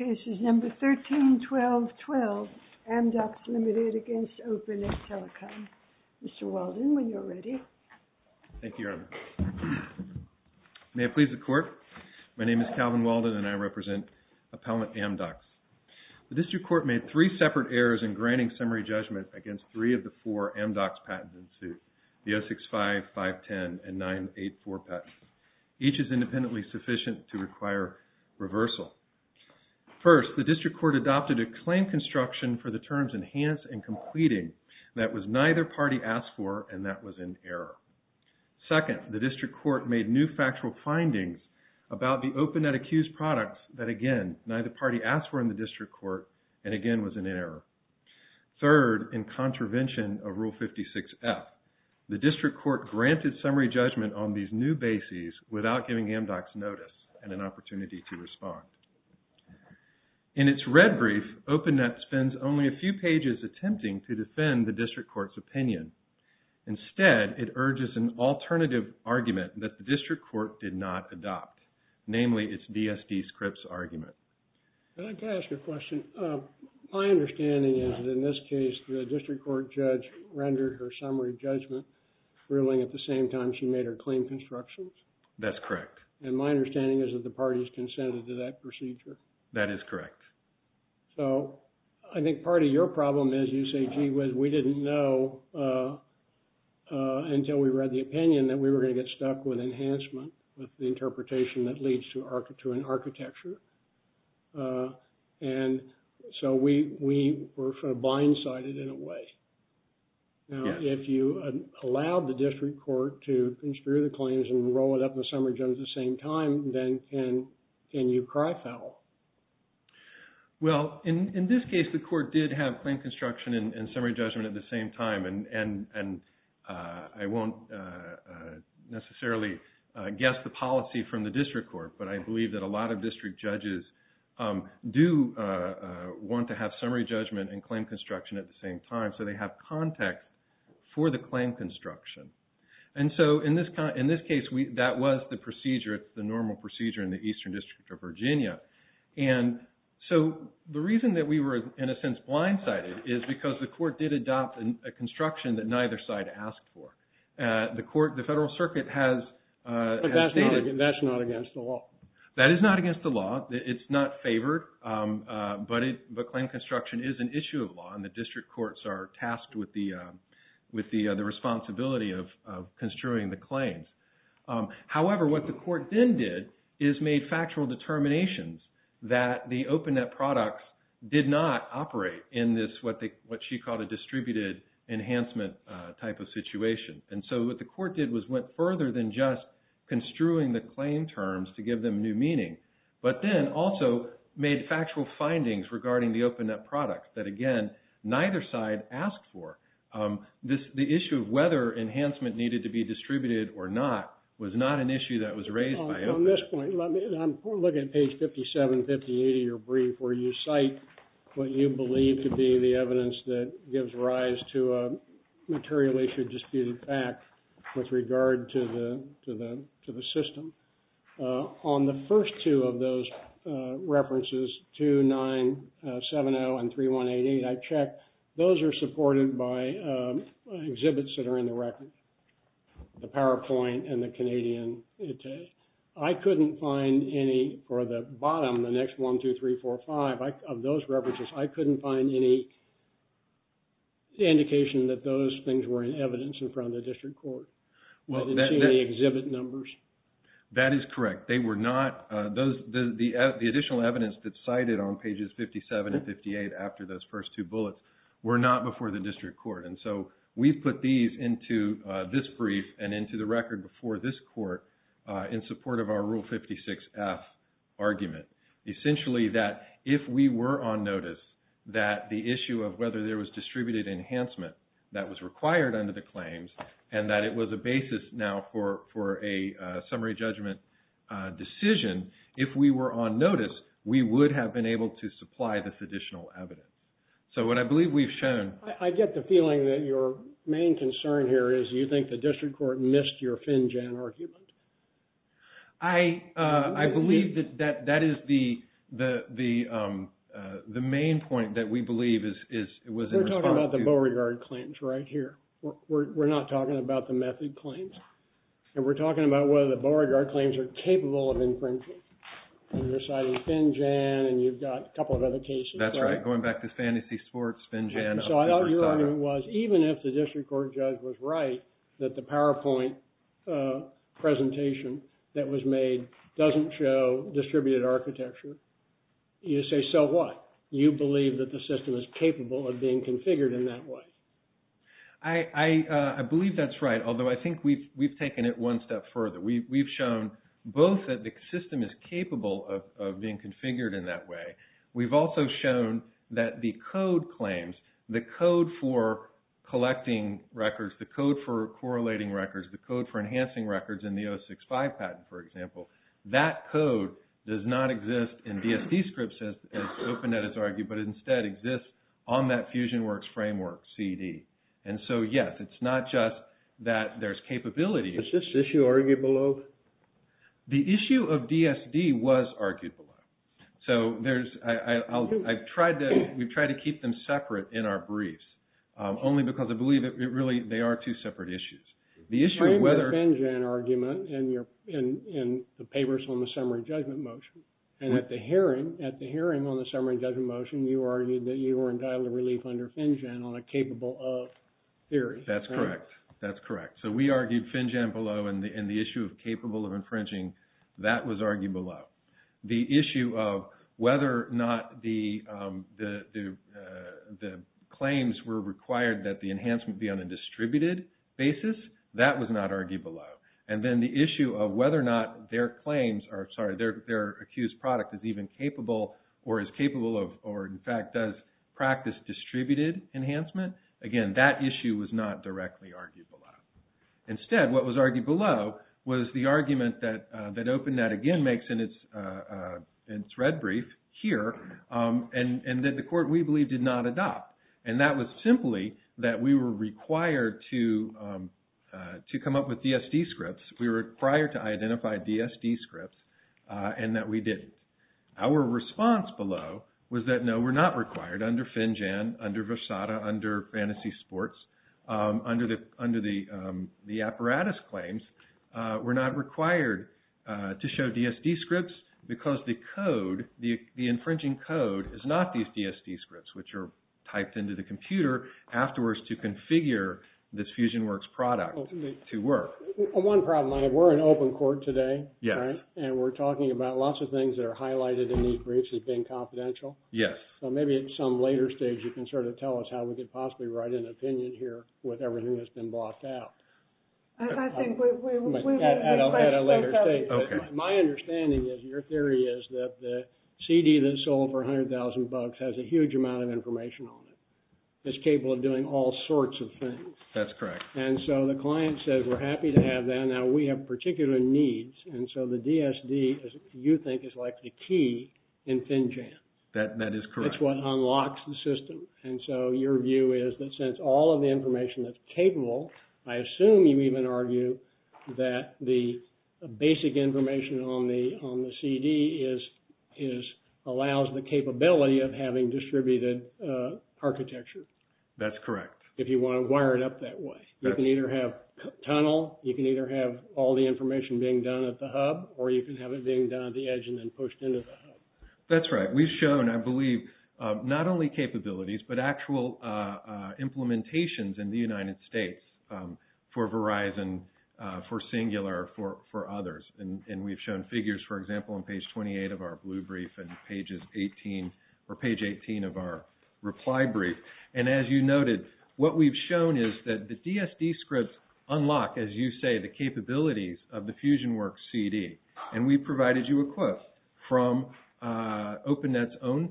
13-12-12 AMDOCS v. OPENET TELECO 1. The District Court adopted a claim construction for the terms enhance and completing that was neither party asked for and that was in error. 2. The District Court made new factual findings about the OPENET-accused products that, again, neither party asked for in the District Court and again was in error. 3. In contravention of Rule 56F, the District Court granted summary judgment on these new bases without giving AMDOCS notice and an opportunity to respond. 4. In its red brief, OPENET spends only a few pages attempting to defend the District Court's opinion. 5. Instead, it urges an alternative argument that the District Court did not adopt, namely its DSD-scripts argument. I'd like to ask a question. My understanding is that in this case, the District Court judge rendered her summary judgment ruling at the same time she made her claim constructions? That's correct. And my understanding is that the parties consented to that procedure? That is correct. So I think part of your problem is you say, gee, we didn't know until we read the opinion that we were going to get stuck with enhancement with the interpretation that leads to an architecture. And so we were sort of blindsided in a way. Now, if you allowed the District Court to conspire the claims and roll it up in the summary judgment at the same time, then can you cry foul? Well, in this case, the court did have claim construction and summary judgment at the same time. And I won't necessarily guess the policy from the District Court, but I believe that a lot of district judges do want to have summary judgment and claim construction at the same time. So they have context for the claim construction. And so in this case, that was the procedure, the normal procedure in the Eastern District of Virginia. And so the reason that we were, in a sense, blindsided is because the court did adopt a construction that neither side asked for. The federal circuit has stated… But that's not against the law. That is not against the law. It's not favored, but claim construction is an issue of law, and the district courts are tasked with the responsibility of construing the claims. However, what the court then did is made factual determinations that the OpenNet products did not operate in this, what she called a distributed enhancement type of situation. And so what the court did was went further than just construing the claim terms to give them new meaning. But then also made factual findings regarding the OpenNet products that, again, neither side asked for. The issue of whether enhancement needed to be distributed or not was not an issue that was raised by OpenNet. I'm looking at page 57, 58 of your brief where you cite what you believe to be the evidence that gives rise to a material issue disputed fact with regard to the system. On the first two of those references, 2970 and 3188, I checked. Those are supported by exhibits that are in the record, the PowerPoint and the Canadian. I couldn't find any for the bottom, the next one, two, three, four, five, of those references, I couldn't find any indication that those things were in evidence in front of the district court. The exhibit numbers? That is correct. They were not, the additional evidence that's cited on pages 57 and 58 after those first two bullets were not before the district court. And so we've put these into this brief and into the record before this court in support of our Rule 56F argument. Essentially that if we were on notice that the issue of whether there was distributed enhancement that was required under the claims and that it was a basis now for a summary judgment decision, if we were on notice, we would have been able to supply this additional evidence. So what I believe we've shown... I get the feeling that your main concern here is you think the district court missed your FinJEN argument. I believe that that is the main point that we believe is... We're talking about the Beauregard claims right here. We're not talking about the method claims. And we're talking about whether the Beauregard claims are capable of infringing. And you're citing FinJEN and you've got a couple of other cases. That's right. Going back to fantasy sports, FinJEN... Even if the district court judge was right that the PowerPoint presentation that was made doesn't show distributed architecture, you say so what? You believe that the system is capable of being configured in that way. I believe that's right, although I think we've taken it one step further. We've shown both that the system is capable of being configured in that way. We've also shown that the code claims, the code for collecting records, the code for correlating records, the code for enhancing records in the 065 patent, for example. That code does not exist in DSD scripts as OpenNet has argued, but instead exists on that FusionWorks framework CD. And so, yes, it's not just that there's capability. Is this issue argued below? The issue of DSD was argued below. So I've tried to keep them separate in our briefs only because I believe that really they are two separate issues. The issue of whether... You're arguing the FinJEN argument in the papers on the summary judgment motion. And at the hearing on the summary judgment motion, you argued that you were entitled to relief under FinJEN on a capable of theory. That's correct. That's correct. So we argued FinJEN below and the issue of capable of infringing, that was argued below. The issue of whether or not the claims were required that the enhancement be on a distributed basis, that was not argued below. And then the issue of whether or not their claims are... Sorry, their accused product is even capable or is capable of or, in fact, does practice distributed enhancement. Again, that issue was not directly argued below. Instead, what was argued below was the argument that OpenNet again makes in its red brief here and that the court, we believe, did not adopt. And that was simply that we were required to come up with DSD scripts. We were required to identify DSD scripts and that we didn't. Our response below was that no, we're not required under FinJEN, under Versada, under Fantasy Sports, under the apparatus claims. We're not required to show DSD scripts because the code, the infringing code is not these DSD scripts which are typed into the computer afterwards to configure this FusionWorks product to work. One problem, we're in open court today, right? And we're talking about lots of things that are highlighted in these briefs as being confidential. Yes. So maybe at some later stage you can sort of tell us how we could possibly write an opinion here with everything that's been blocked out. I think we... At a later stage. Okay. My understanding is, your theory is that the CD that sold for $100,000 has a huge amount of information on it. It's capable of doing all sorts of things. That's correct. And so the client says we're happy to have that. Now we have particular needs. And so the DSD, you think, is like the key in FinJEN. That is correct. It's what unlocks the system. And so your view is that since all of the information that's capable, I assume you even argue that the basic information on the CD allows the capability of having distributed architecture. That's correct. If you want to wire it up that way. You can either have tunnel, you can either have all the information being done at the hub, or you can have it being done at the edge and then pushed into the hub. That's right. We've shown, I believe, not only capabilities, but actual implementations in the United States for Verizon, for Singular, for others. And we've shown figures, for example, on page 28 of our blue brief and page 18 of our reply brief. And as you noted, what we've shown is that the DSD scripts unlock, as you say, the capabilities of the FusionWorks CD. And we've provided you a quiff from OpenNet's own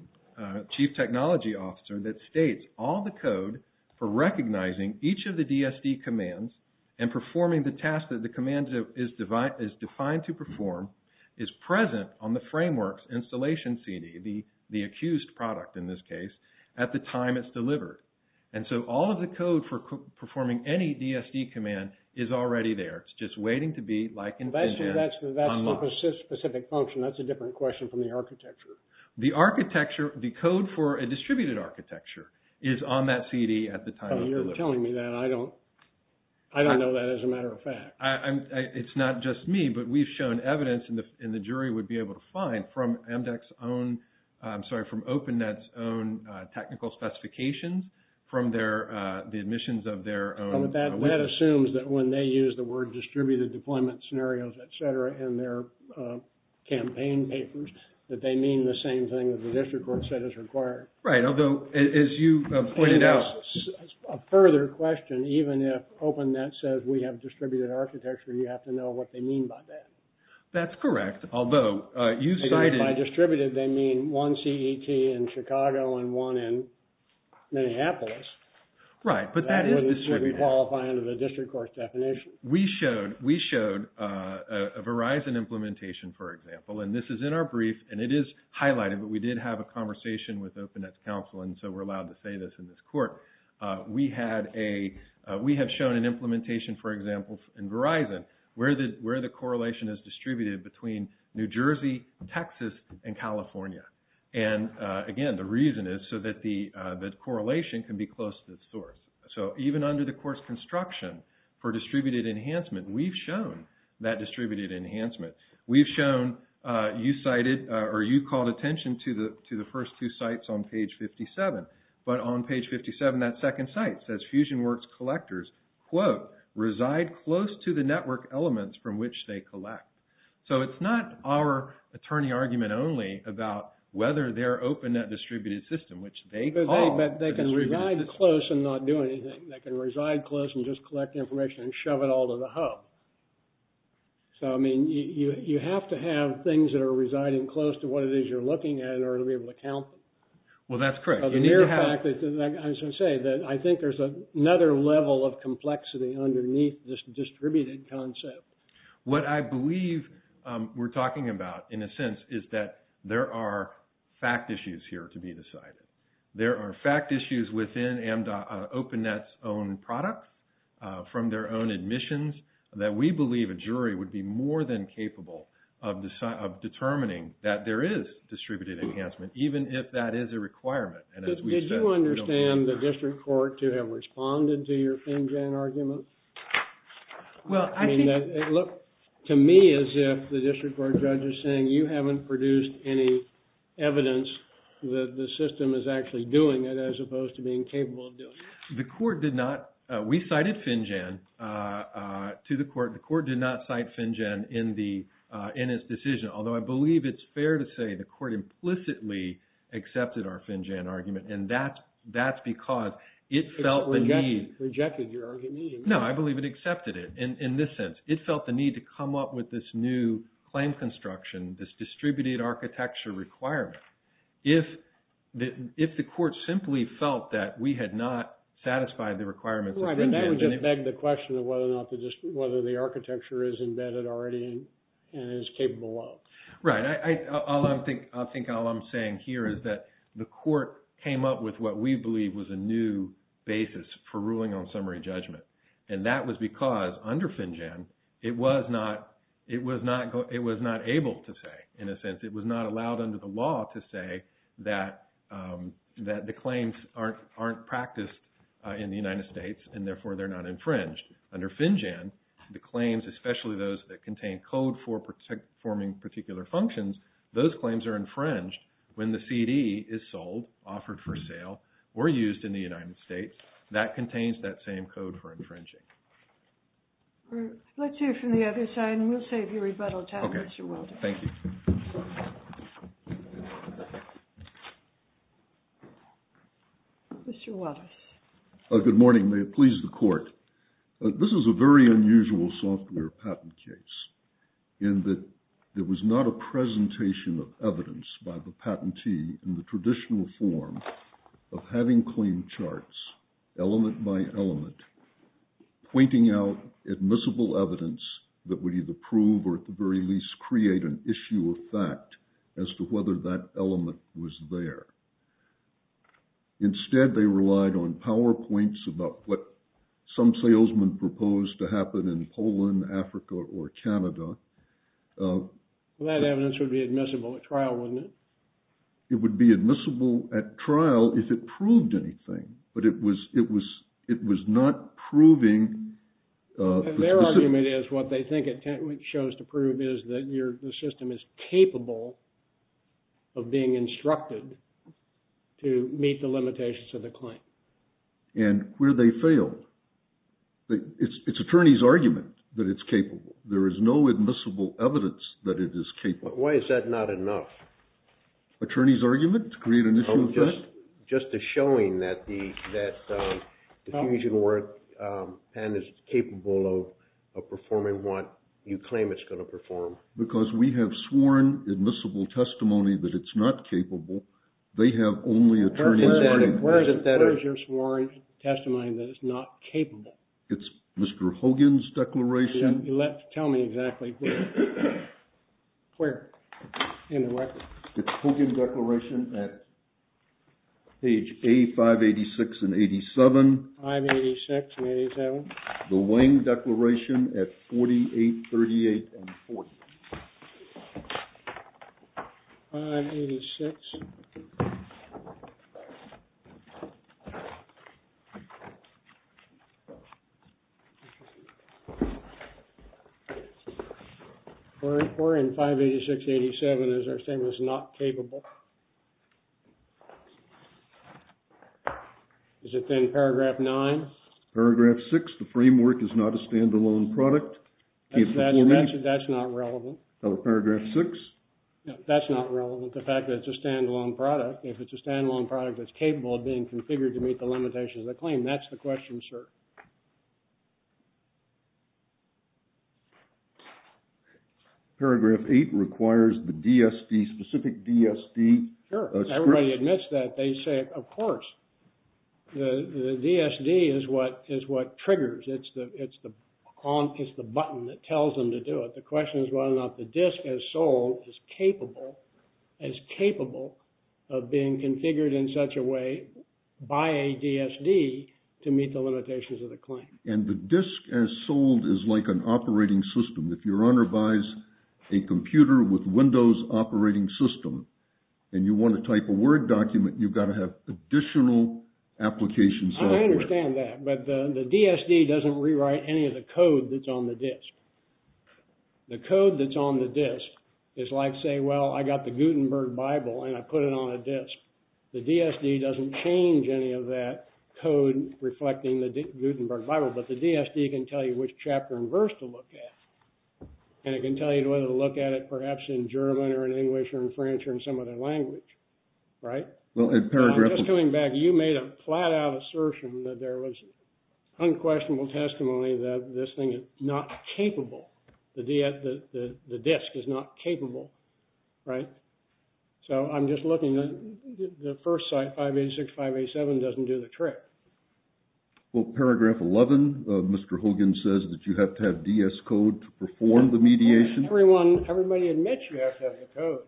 chief technology officer that states all the code for recognizing each of the DSD commands and performing the task that the command is defined to perform is present on the frameworks installation CD, the accused product in this case, at the time it's delivered. And so all of the code for performing any DSD command is already there. It's just waiting to be, like in Fusion, unlocked. Well, that's the specific function. That's a different question from the architecture. The architecture, the code for a distributed architecture is on that CD at the time it's delivered. Oh, you're telling me that. I don't know that as a matter of fact. It's not just me, but we've shown evidence, and the jury would be able to find from MDAC's own, I'm sorry, from OpenNet's own technical specifications from their, the admissions of their own. That assumes that when they use the word distributed deployment scenarios, et cetera, in their campaign papers, that they mean the same thing that the district court said is required. Right. Although, as you pointed out. A further question, even if OpenNet says we have distributed architecture, you have to know what they mean by that. That's correct. Although, you cited. By distributed, they mean one CET in Chicago and one in Minneapolis. Right, but that is distributed. That would qualify under the district court's definition. We showed a Verizon implementation, for example, and this is in our brief, and it is highlighted, but we did have a conversation with OpenNet's counsel, and so we're allowed to say this in this court. We have shown an implementation, for example, in Verizon where the correlation is distributed between New Jersey, Texas, and California. Again, the reason is so that the correlation can be close to the source. So, even under the court's construction for distributed enhancement, we've shown that distributed enhancement. We've shown, you cited, or you called attention to the first two sites on page 57, but on page 57, that second site says FusionWorks collectors, quote, reside close to the network elements from which they collect. So, it's not our attorney argument only about whether they're OpenNet distributed system, which they call a distributed system. But they can reside close and not do anything. They can reside close and just collect information and shove it all to the hub. So, I mean, you have to have things that are residing close to what it is you're looking at in order to be able to count them. Well, that's correct. But the mere fact that, like I was going to say, that I think there's another level of complexity underneath this distributed concept. What I believe we're talking about, in a sense, is that there are fact issues here to be decided. There are fact issues within OpenNet's own product, from their own admissions, that we believe a jury would be more than capable of determining that there is distributed enhancement, even if that is a requirement. And as we said, we don't want that. Is it fair for your court to have responded to your FinCEN argument? Well, I think… I mean, it looked to me as if the district court judge is saying you haven't produced any evidence that the system is actually doing it as opposed to being capable of doing it. The court did not. We cited FinCEN to the court. The court did not cite FinCEN in its decision, although I believe it's fair to say the court implicitly accepted our FinCEN argument. And that's because it felt the need… It rejected your argument? No, I believe it accepted it in this sense. It felt the need to come up with this new claim construction, this distributed architecture requirement. If the court simply felt that we had not satisfied the requirements… Right, and that would just beg the question of whether or not the architecture is embedded already and is capable of. Right. I think all I'm saying here is that the court came up with what we believe was a new basis for ruling on summary judgment. And that was because under FinCEN, it was not able to say. In a sense, it was not allowed under the law to say that the claims aren't practiced in the United States, and therefore, they're not infringed. Under FinCEN, the claims, especially those that contain code for forming particular functions, those claims are infringed when the CD is sold, offered for sale, or used in the United States. That contains that same code for infringing. Let's hear from the other side, and we'll save you rebuttal time, Mr. Walters. Okay, thank you. Mr. Walters. Good morning. This is a very unusual software patent case in that there was not a presentation of evidence by the patentee in the traditional form of having claim charts, element by element, pointing out admissible evidence that would either prove or at the very least create an issue of fact as to whether that element was there. Instead, they relied on PowerPoints about what some salesman proposed to happen in Poland, Africa, or Canada. Well, that evidence would be admissible at trial, wouldn't it? It would be admissible at trial if it proved anything, but it was not proving... Their argument is what they think it shows to prove is that the system is capable of being instructed to meet the limitations of the claim. And where they fail, it's attorney's argument that it's capable. There is no admissible evidence that it is capable. Why is that not enough? Just a showing that the fusion work pen is capable of performing what you claim it's going to perform. Because we have sworn admissible testimony that it's not capable. They have only attorney's argument. Where is your sworn testimony that it's not capable? It's Mr. Hogan's declaration. Tell me exactly where. Where in the record? It's Hogan's declaration at page A586 and 87. 586 and 87. The Wang declaration at 48, 38, and 40. 586. 484 and 586, 87 is our statement that it's not capable. Is it then paragraph 9? Paragraph 6, the framework is not a stand-alone product. That's not relevant. Paragraph 6. That's not relevant, the fact that it's a stand-alone product. If it's a stand-alone product, it's capable of being configured to meet the limitations of the claim. That's the question, sir. Paragraph 8 requires the DSD, specific DSD. Sure, everybody admits that. They say, of course. The DSD is what triggers. It's the button that tells them to do it. But the question is whether or not the disk as sold is capable, is capable of being configured in such a way by a DSD to meet the limitations of the claim. And the disk as sold is like an operating system. If your owner buys a computer with Windows operating system, and you want to type a Word document, you've got to have additional applications. I understand that, but the DSD doesn't rewrite any of the code that's on the disk. The code that's on the disk is like saying, well, I got the Gutenberg Bible, and I put it on a disk. The DSD doesn't change any of that code reflecting the Gutenberg Bible, but the DSD can tell you which chapter and verse to look at. And it can tell you whether to look at it perhaps in German or in English or in French or in some other language, right? Well, in paragraph... I'm just coming back. You made a flat-out assertion that there was unquestionable testimony that this thing is not capable. The disk is not capable, right? So I'm just looking at the first site, 586, 587 doesn't do the trick. Well, paragraph 11, Mr. Hogan says that you have to have DS code to perform the mediation. Everyone, everybody admits you have to have the code.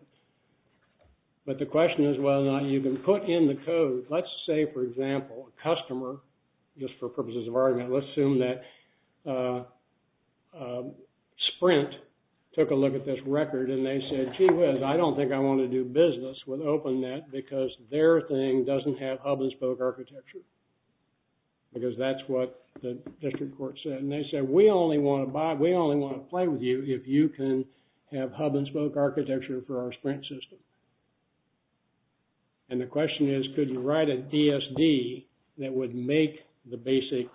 But the question is whether or not you can put in the code. Let's say, for example, a customer, just for purposes of argument, let's assume that Sprint took a look at this record and they said, gee whiz, I don't think I want to do business with OpenNet because their thing doesn't have hub-and-spoke architecture because that's what the district court said. And they said, we only want to buy, we only want to play with you if you can have hub-and-spoke architecture for our Sprint system. And the question is, could you write a DSD that would make the basic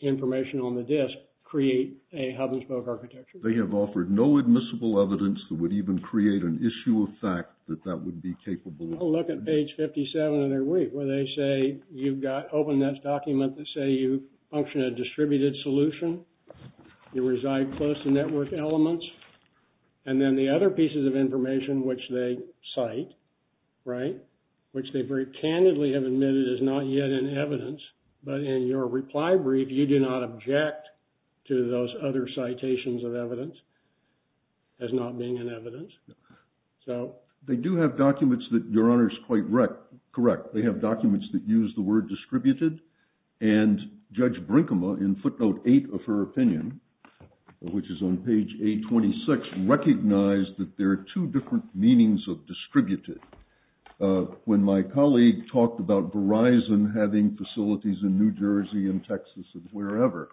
information on the disk create a hub-and-spoke architecture? They have offered no admissible evidence that would even create an issue of fact that that would be capable. Well, look at page 57 of their week where they say, you've got OpenNet's document that say you function a distributed solution, you reside close to network elements, and then the other pieces of information which they cite, right, which they very candidly have admitted is not yet in evidence, but in your reply brief you do not object to those other citations of evidence as not being in evidence. They do have documents that Your Honor is quite correct. They have documents that use the word distributed and Judge Brinkema, in footnote 8 of her opinion, which is on page 826, recognized that there are two different meanings of distributed. When my colleague talked about Verizon having facilities in New Jersey and Texas and wherever,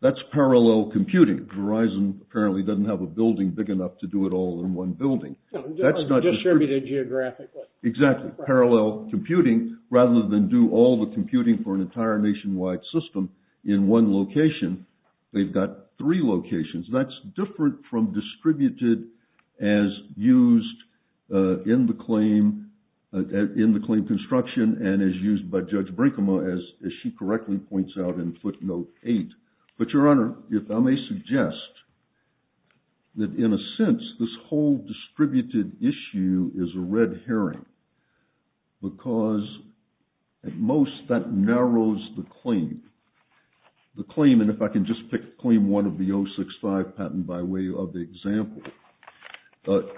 that's parallel computing. Verizon apparently doesn't have a building big enough to do it all in one building. No, distributed geographically. Exactly, parallel computing. Rather than do all the computing for an entire nationwide system in one location, they've got three locations. That's different from distributed as used in the claim, in the claim construction and as used by Judge Brinkema as she correctly points out in footnote 8. But Your Honor, if I may suggest that in a sense, this whole distributed issue is a red herring because at most that narrows the claim. The claim, and if I can just pick claim 1 of the 065 patent by way of the example,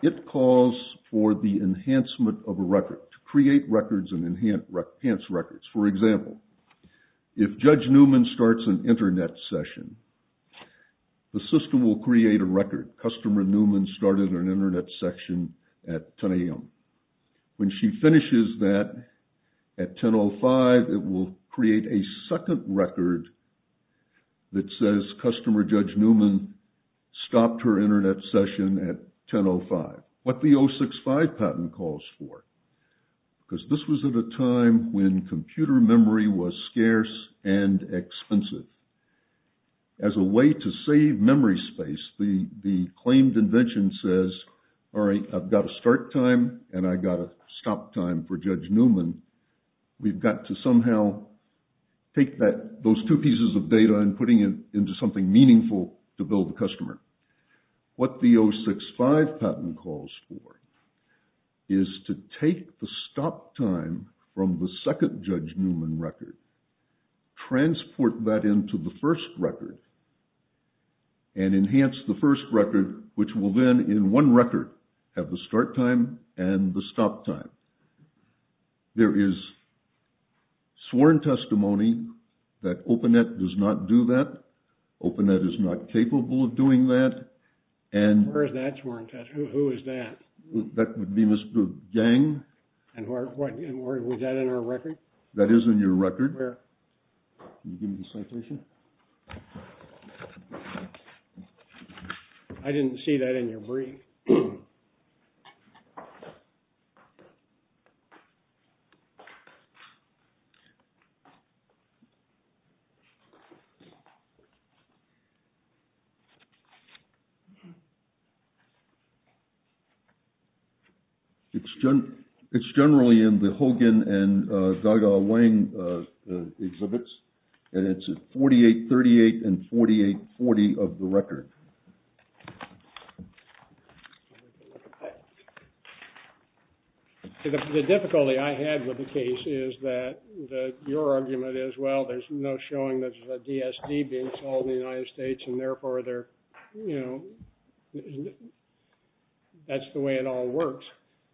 it calls for the enhancement of a record, to create records and enhance records. For example, if Judge Newman starts an internet session, the system will create a record. Customer Newman started an internet session at 10 a.m. When she finishes that at 10.05, it will create a second record that says, Customer Judge Newman stopped her internet session at 10.05. What the 065 patent calls for. Because this was at a time when computer memory was scarce and expensive. As a way to save memory space, the claimed invention says, All right, I've got a start time and I've got a stop time for Judge Newman. We've got to somehow take those two pieces of data and putting it into something meaningful to build the customer. What the 065 patent calls for is to take the stop time from the second Judge Newman record, transport that into the first record, and enhance the first record, which will then, in one record, have the start time and the stop time. There is sworn testimony that OpenNet does not do that. OpenNet is not capable of doing that. Where is that sworn testimony? Who is that? That would be Mr. Gang. Was that in our record? That is in your record. Can you give me the citation? I didn't see that in your brief. It's generally in the Hogan and Dada Wang exhibits, and it's at 4838 and 4840 of the record. The difficulty I had with the case is that your argument is, Well, there's no showing that there's a DSD being sold in the United States, and therefore, you know, that's the way it all works.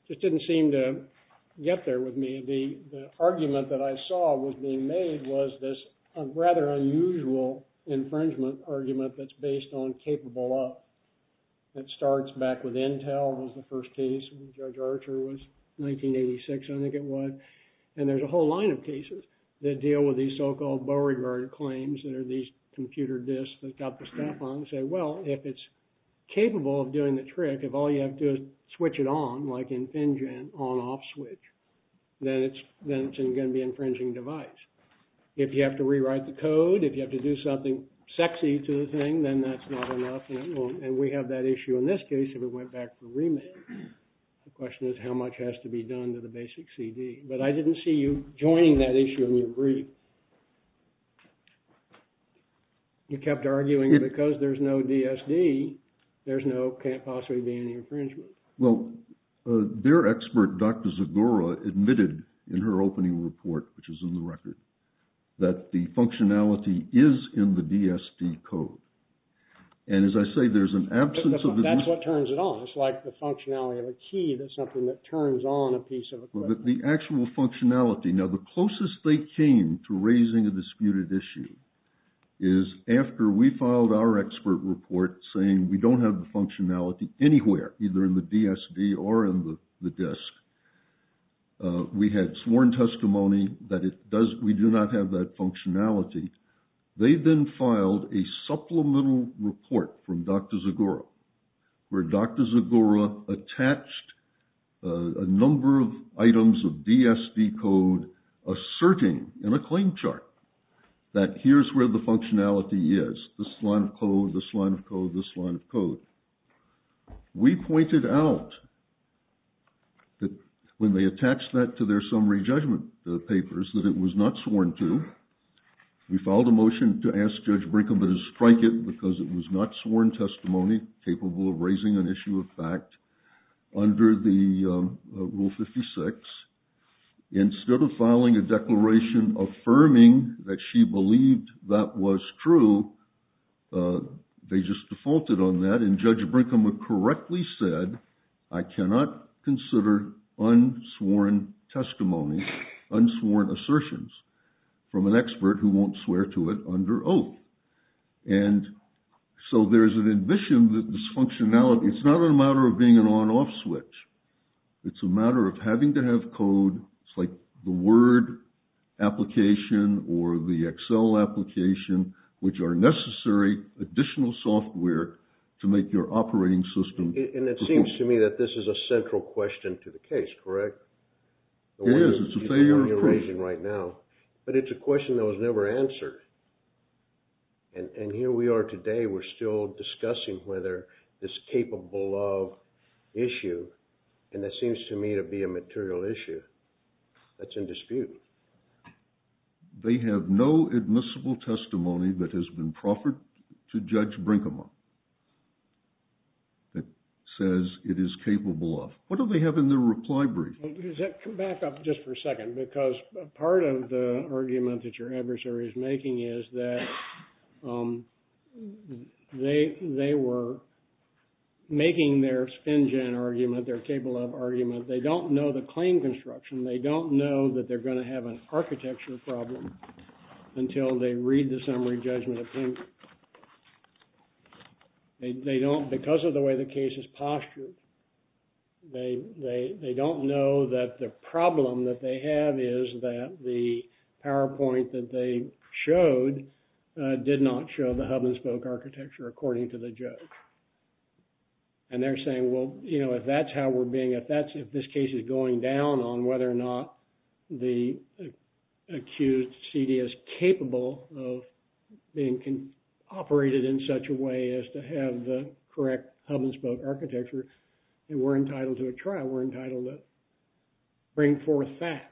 It didn't seem to get there with me. The argument that I saw was being made was this rather unusual infringement argument that's based on capable of. It starts back with Intel. It was the first case. Judge Archer was 1986, I think it was. And there's a whole line of cases that deal with these so-called Beauregard claims that are these computer disks that got the staff on and say, Well, if it's capable of doing the trick, if all you have to do is switch it on, like in FinGen, on-off switch, then it's going to be an infringing device. If you have to rewrite the code, if you have to do something sexy to the thing, then that's not enough, and it won't. And we have that issue in this case if it went back to remake. The question is how much has to be done to the basic CD. But I didn't see you joining that issue in your brief. You kept arguing because there's no DSD, there can't possibly be any infringement. Well, their expert, Dr. Zagora, admitted in her opening report, which is in the record, that the functionality is in the DSD code. And as I say, there's an absence of... That's what turns it on. It's like the functionality of a key that's something that turns on a piece of equipment. The actual functionality. Now, the closest they came to raising a disputed issue is after we filed our expert report saying we don't have the functionality anywhere, either in the DSD or in the disk. We had sworn testimony that we do not have that functionality. They then filed a supplemental report from Dr. Zagora where Dr. Zagora attached a number of items of DSD code asserting in a claim chart that here's where the functionality is, this line of code, this line of code, this line of code. We pointed out that when they attached that to their summary judgment papers, that it was not sworn to. We filed a motion to ask Judge Brinkman to strike it because it was not sworn testimony capable of raising an issue of fact under Rule 56. Instead of filing a declaration affirming that she believed that was true, they just defaulted on that, and Judge Brinkman correctly said, I cannot consider unsworn testimony, unsworn assertions from an expert who won't swear to it under Oak. And so there's an admission that this functionality, it's not a matter of being an on-off switch. It's a matter of having to have code, it's like the Word application or the Excel application which are necessary additional software to make your operating system... And it seems to me that this is a central question to the case, correct? It is, it's a failure of proof. But it's a question that was never answered. And here we are today, we're still discussing whether this capable of issue, and that seems to me to be a material issue that's in dispute. They have no admissible testimony that has been proffered to Judge Brinkman that says it is capable of. What do they have in their reply brief? Back up just for a second, because part of the argument that your adversary is making is that they were making their spin-gen argument, their capable of argument, they don't know the claim construction, they don't know that they're going to have an architecture problem until they read the summary judgment opinion. They don't, because of the way the case is postured, they don't know that the problem that they have is that the PowerPoint that they showed did not show the hub-and-spoke architecture according to the judge. And they're saying, well, you know, if that's how we're being, if this case is going down on whether or not the accused CD is capable of being operated in such a way as to have the correct hub-and-spoke architecture, then we're entitled to a trial. We're entitled to bring forth facts.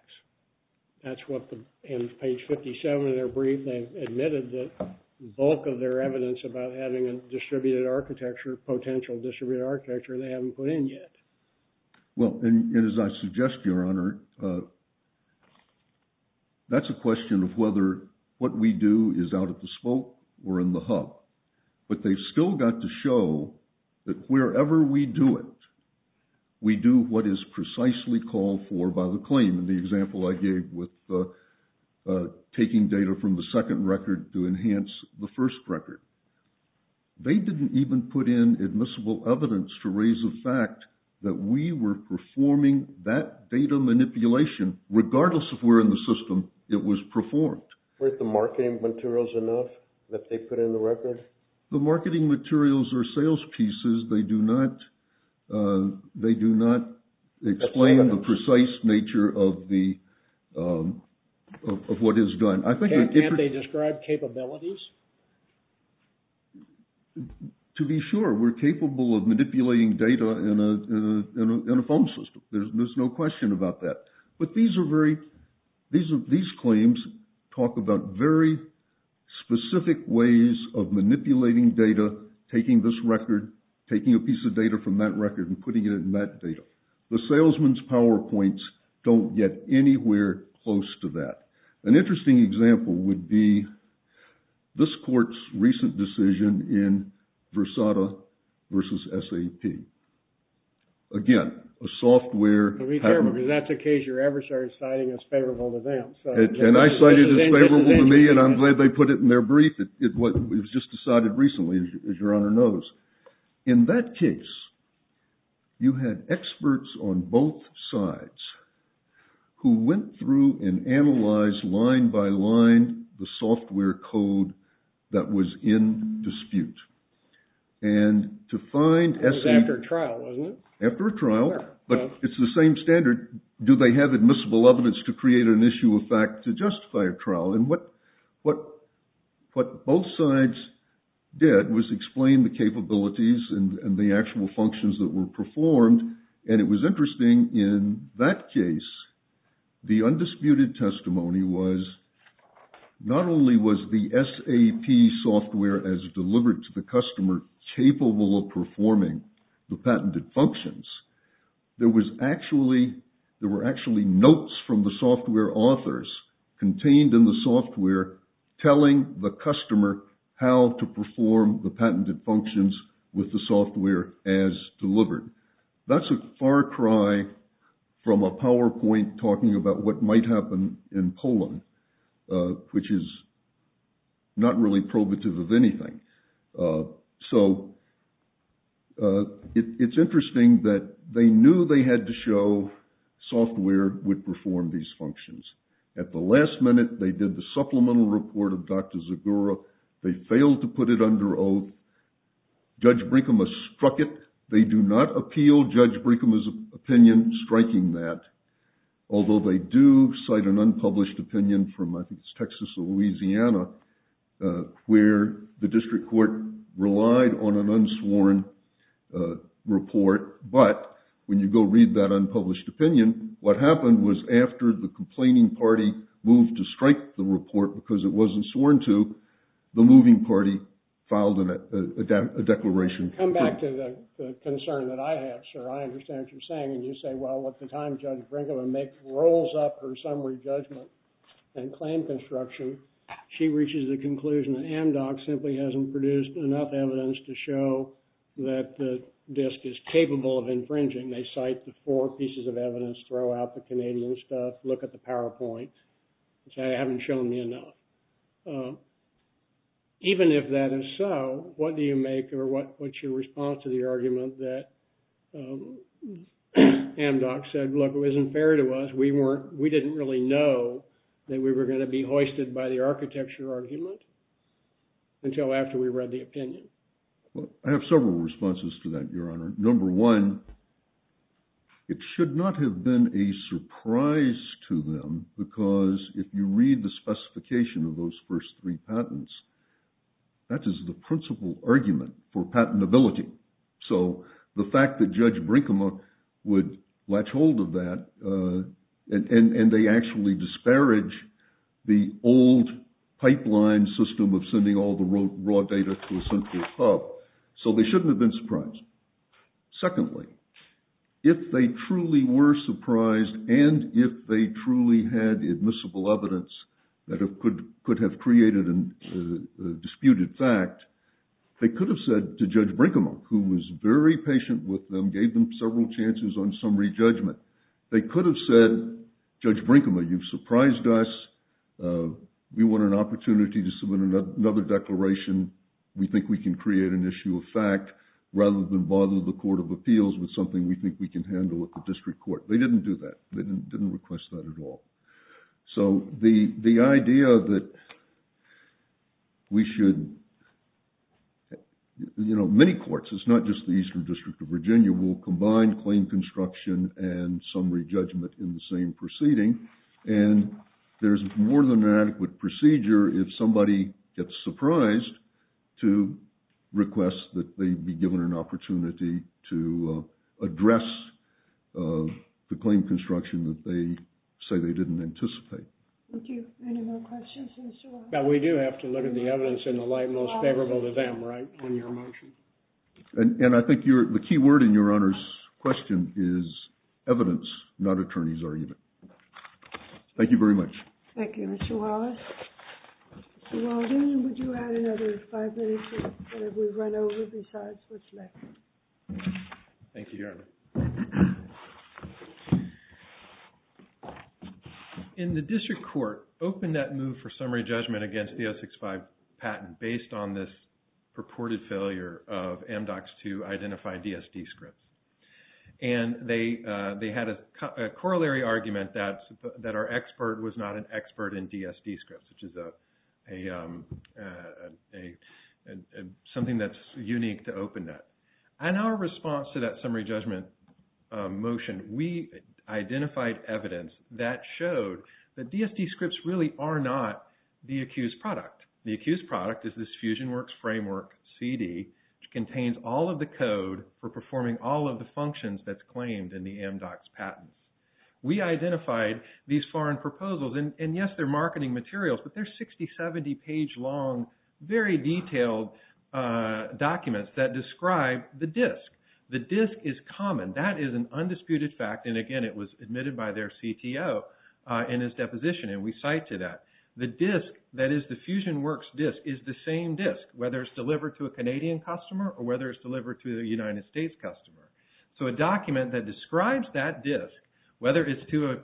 That's what, in page 57 of their brief, they've admitted the bulk of their evidence about having a distributed architecture, potential distributed architecture, they haven't put in yet. Well, and as I suggest, Your Honor, that's a question of whether what we do is out at the spoke or in the hub. But they've still got to show that wherever we do it, we do what is precisely called for by the claim. In the example I gave with taking data from the second record to enhance the first record, they didn't even put in admissible evidence to raise the fact that we were performing that data manipulation, regardless of where in the system it was performed. Weren't the marketing materials enough that they put in the record? The marketing materials are sales pieces. They do not explain the precise nature of what is done. Can't they describe capabilities? To be sure, we're capable of manipulating data in a phone system. There's no question about that. But these claims talk about very specific ways of manipulating data, taking this record, taking a piece of data from that record and putting it in that data. The salesman's PowerPoints don't get anywhere close to that. An interesting example would be this court's recent decision in Versada versus SAP. Again, a software... That's a case your adversary is citing as favorable to them. And I cite it as favorable to me, and I'm glad they put it in their brief. It was just decided recently, as your Honor knows. In that case, you had experts on both sides who went through and analyzed line by line the software code that was in dispute. And to find... It was after a trial, wasn't it? After a trial, but it's the same standard. Do they have admissible evidence to create an issue of fact to justify a trial? And what both sides did was explain the capabilities and the actual functions that were performed. And it was interesting in that case, the undisputed testimony was not only was the SAP software as delivered to the customer capable of performing the patented functions, there were actually notes from the software authors contained in the software telling the customer how to perform the patented functions with the software as delivered. That's a far cry from a PowerPoint talking about what might happen in Poland, which is not really probative of anything. So, it's interesting that they knew they had to show software would perform these functions. At the last minute, they did the supplemental report of Dr. Zagora. They failed to put it under oath. Judge Brinkema struck it. They do not appeal Judge Brinkema's opinion striking that. Although they do cite an unpublished opinion from I think it's Texas or Louisiana where the district court relied on an unsworn report, but when you go read that unpublished opinion, what happened was after the complaining party moved to strike the report because it wasn't sworn to, the moving party filed a declaration. Come back to the concern that I have, sir. I understand what you're saying. And you say, well, at the time Judge Brinkema rolls up her summary judgment and claim construction, she reaches the conclusion that Amdoc simply hasn't produced enough evidence to show that the disk is capable of infringing. They cite the four pieces of evidence, throw out the Canadian stuff, look at the PowerPoint, and say, they haven't shown me enough. Even if that is so, what do you make of what's your response to the argument that Amdoc said, look, it wasn't fair to us. We didn't really know that we were going to be hoisted by the architecture argument until after we read the opinion. I have several responses to that, Your Honor. Number one, it should not have been a surprise to them because if you read the specification of those first three patents, that is the principal argument for patentability. So the fact that Judge Brinkema would latch hold of that and they actually disparage the old pipeline system of sending all the raw data to a central hub, so they shouldn't have been surprised. Secondly, if they truly were surprised and if they truly had admissible evidence that could have created a disputed fact, they could have said to Judge Brinkema, who was very patient with them, gave them several chances on summary judgment. They could have said, Judge Brinkema, you've surprised us. We want an opportunity to submit another declaration. We think we can create an issue of fact rather than bother the Court of Appeals with something we think we can handle at the district court. They didn't do that. They didn't request that at all. So the idea that we should, you know, many courts, it's not just the Eastern District of Virginia, will combine claim construction and summary judgment in the same proceeding. And there's more than an adequate procedure if somebody gets surprised to request that they be given an opportunity to address the claim construction that they say they didn't anticipate. Thank you. Any more questions? Now, we do have to look at the evidence in the light most favorable to them, right? In your motion. And I think the key word in Your Honor's question is evidence, not attorney's argument. Thank you very much. Thank you, Mr. Wallace. Mr. Waldron, would you have another five minutes before we run over besides what's left? Thank you, Your Honor. In the district court, open that move for summary judgment against DS-65 patent based on this purported failure of MDOCs to identify DSD scripts. And they had a corollary argument that our expert was not an expert in DSD scripts, which is something that's unique to open that. And our response to that summary judgment motion, we identified evidence that showed that DSD scripts really are not the accused product. The accused product is this FusionWorks framework CD, which contains all of the code for performing all of the functions that's claimed in the MDOCs patent. We identified these foreign proposals. And yes, they're marketing materials. But they're 60, 70 page long, very detailed documents that describe the disk. The disk is common. That is an undisputed fact. And again, it was admitted by their CTO in his deposition. And we cite to that. The disk, that is the FusionWorks disk, is the same disk, whether it's delivered to a Canadian customer or whether it's delivered to a United States customer. So a document that describes that disk, whether it's to a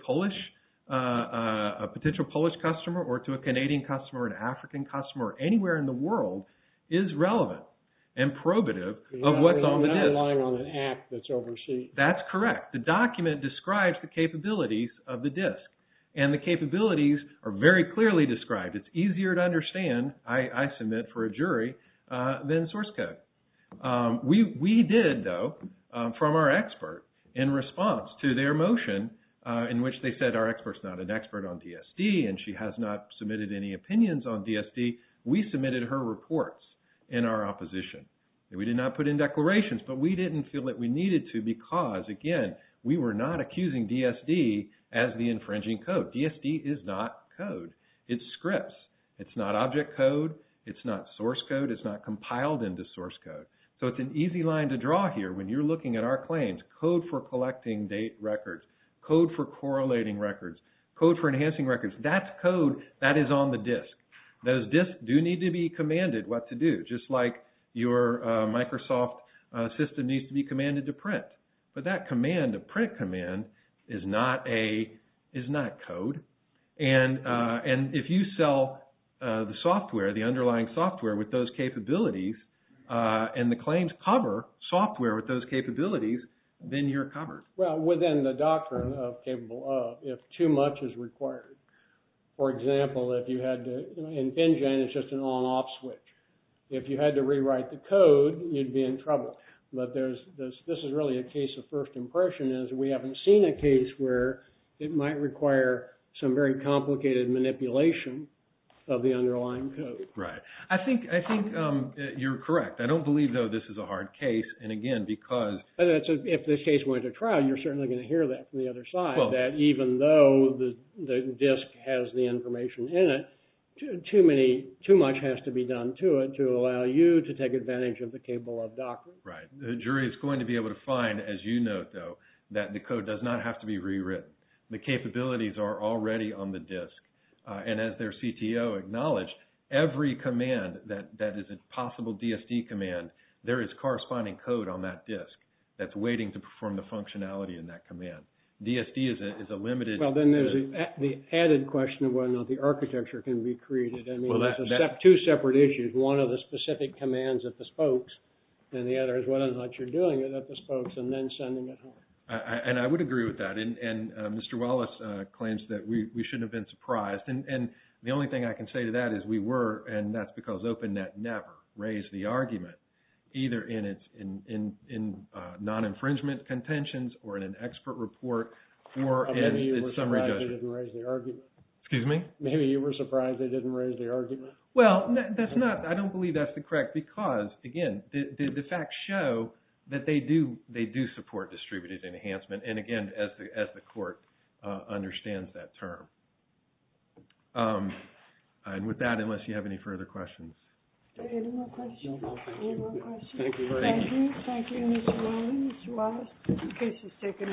potential Polish customer or to a Canadian customer or an African customer or anywhere in the world, is relevant and probative of what's on the disk. That's correct. The document describes the capabilities of the disk. And the capabilities are very clearly described. It's easier to understand, I submit for a jury, than source code. We did, though, from our expert, in response to their motion in which they said our expert's not an expert on DSD and she has not submitted any opinions on DSD, we submitted her reports in our opposition. We did not put in declarations. But we didn't feel that we needed to because, again, we were not accusing DSD as the infringing code. DSD is not code. It's scripts. It's not object code. It's not source code. It's not compiled into source code. So it's an easy line to draw here when you're looking at our claims. Code for collecting date records. Code for correlating records. Code for enhancing records. That's code that is on the disk. Those disks do need to be commanded what to do, just like your Microsoft system needs to be commanded to print. But that command, a print command, is not code. And if you sell the software, the underlying software, with those capabilities, and the claims cover software with those capabilities, then you're covered. Well, within the doctrine of capable of, if too much is required. For example, if you had to... If you had to rewrite the code, you'd be in trouble. But this is really a case of first impression, is we haven't seen a case where it might require some very complicated manipulation of the underlying code. Right. I think you're correct. I don't believe, though, this is a hard case. And again, because... If this case went to trial, you're certainly going to hear that from the other side, that even though the disk has the information in it, too much has to be done to it to allow you to take advantage of the capable of doctrine. Right. The jury is going to be able to find, as you note, though, that the code does not have to be rewritten. The capabilities are already on the disk. And as their CTO acknowledged, every command that is a possible DSD command, there is corresponding code on that disk that's waiting to perform the functionality in that command. DSD is a limited... Well, then there's the added question of whether or not the architecture can be created. I mean, it's two separate issues. One of the specific commands at the spokes, and the other is whether or not you're doing it at the spokes and then sending it home. And I would agree with that. And Mr. Wallace claims that we shouldn't have been surprised. And the only thing I can say to that is we were, and that's because OpenNet never raised the argument, either in non-infringement contentions or in an expert report or in summary judgment. Maybe they didn't raise the argument. Excuse me? Maybe you were surprised they didn't raise the argument. Well, that's not... I don't believe that's the correct... Because, again, the facts show that they do support distributed enhancement. And again, as the court understands that term. And with that, unless you have any further questions... Any more questions? No more questions. Any more questions? Thank you very much. Thank you. Thank you, Mr. Warren, Mr. Wallace. The case has taken a decision. Thank you.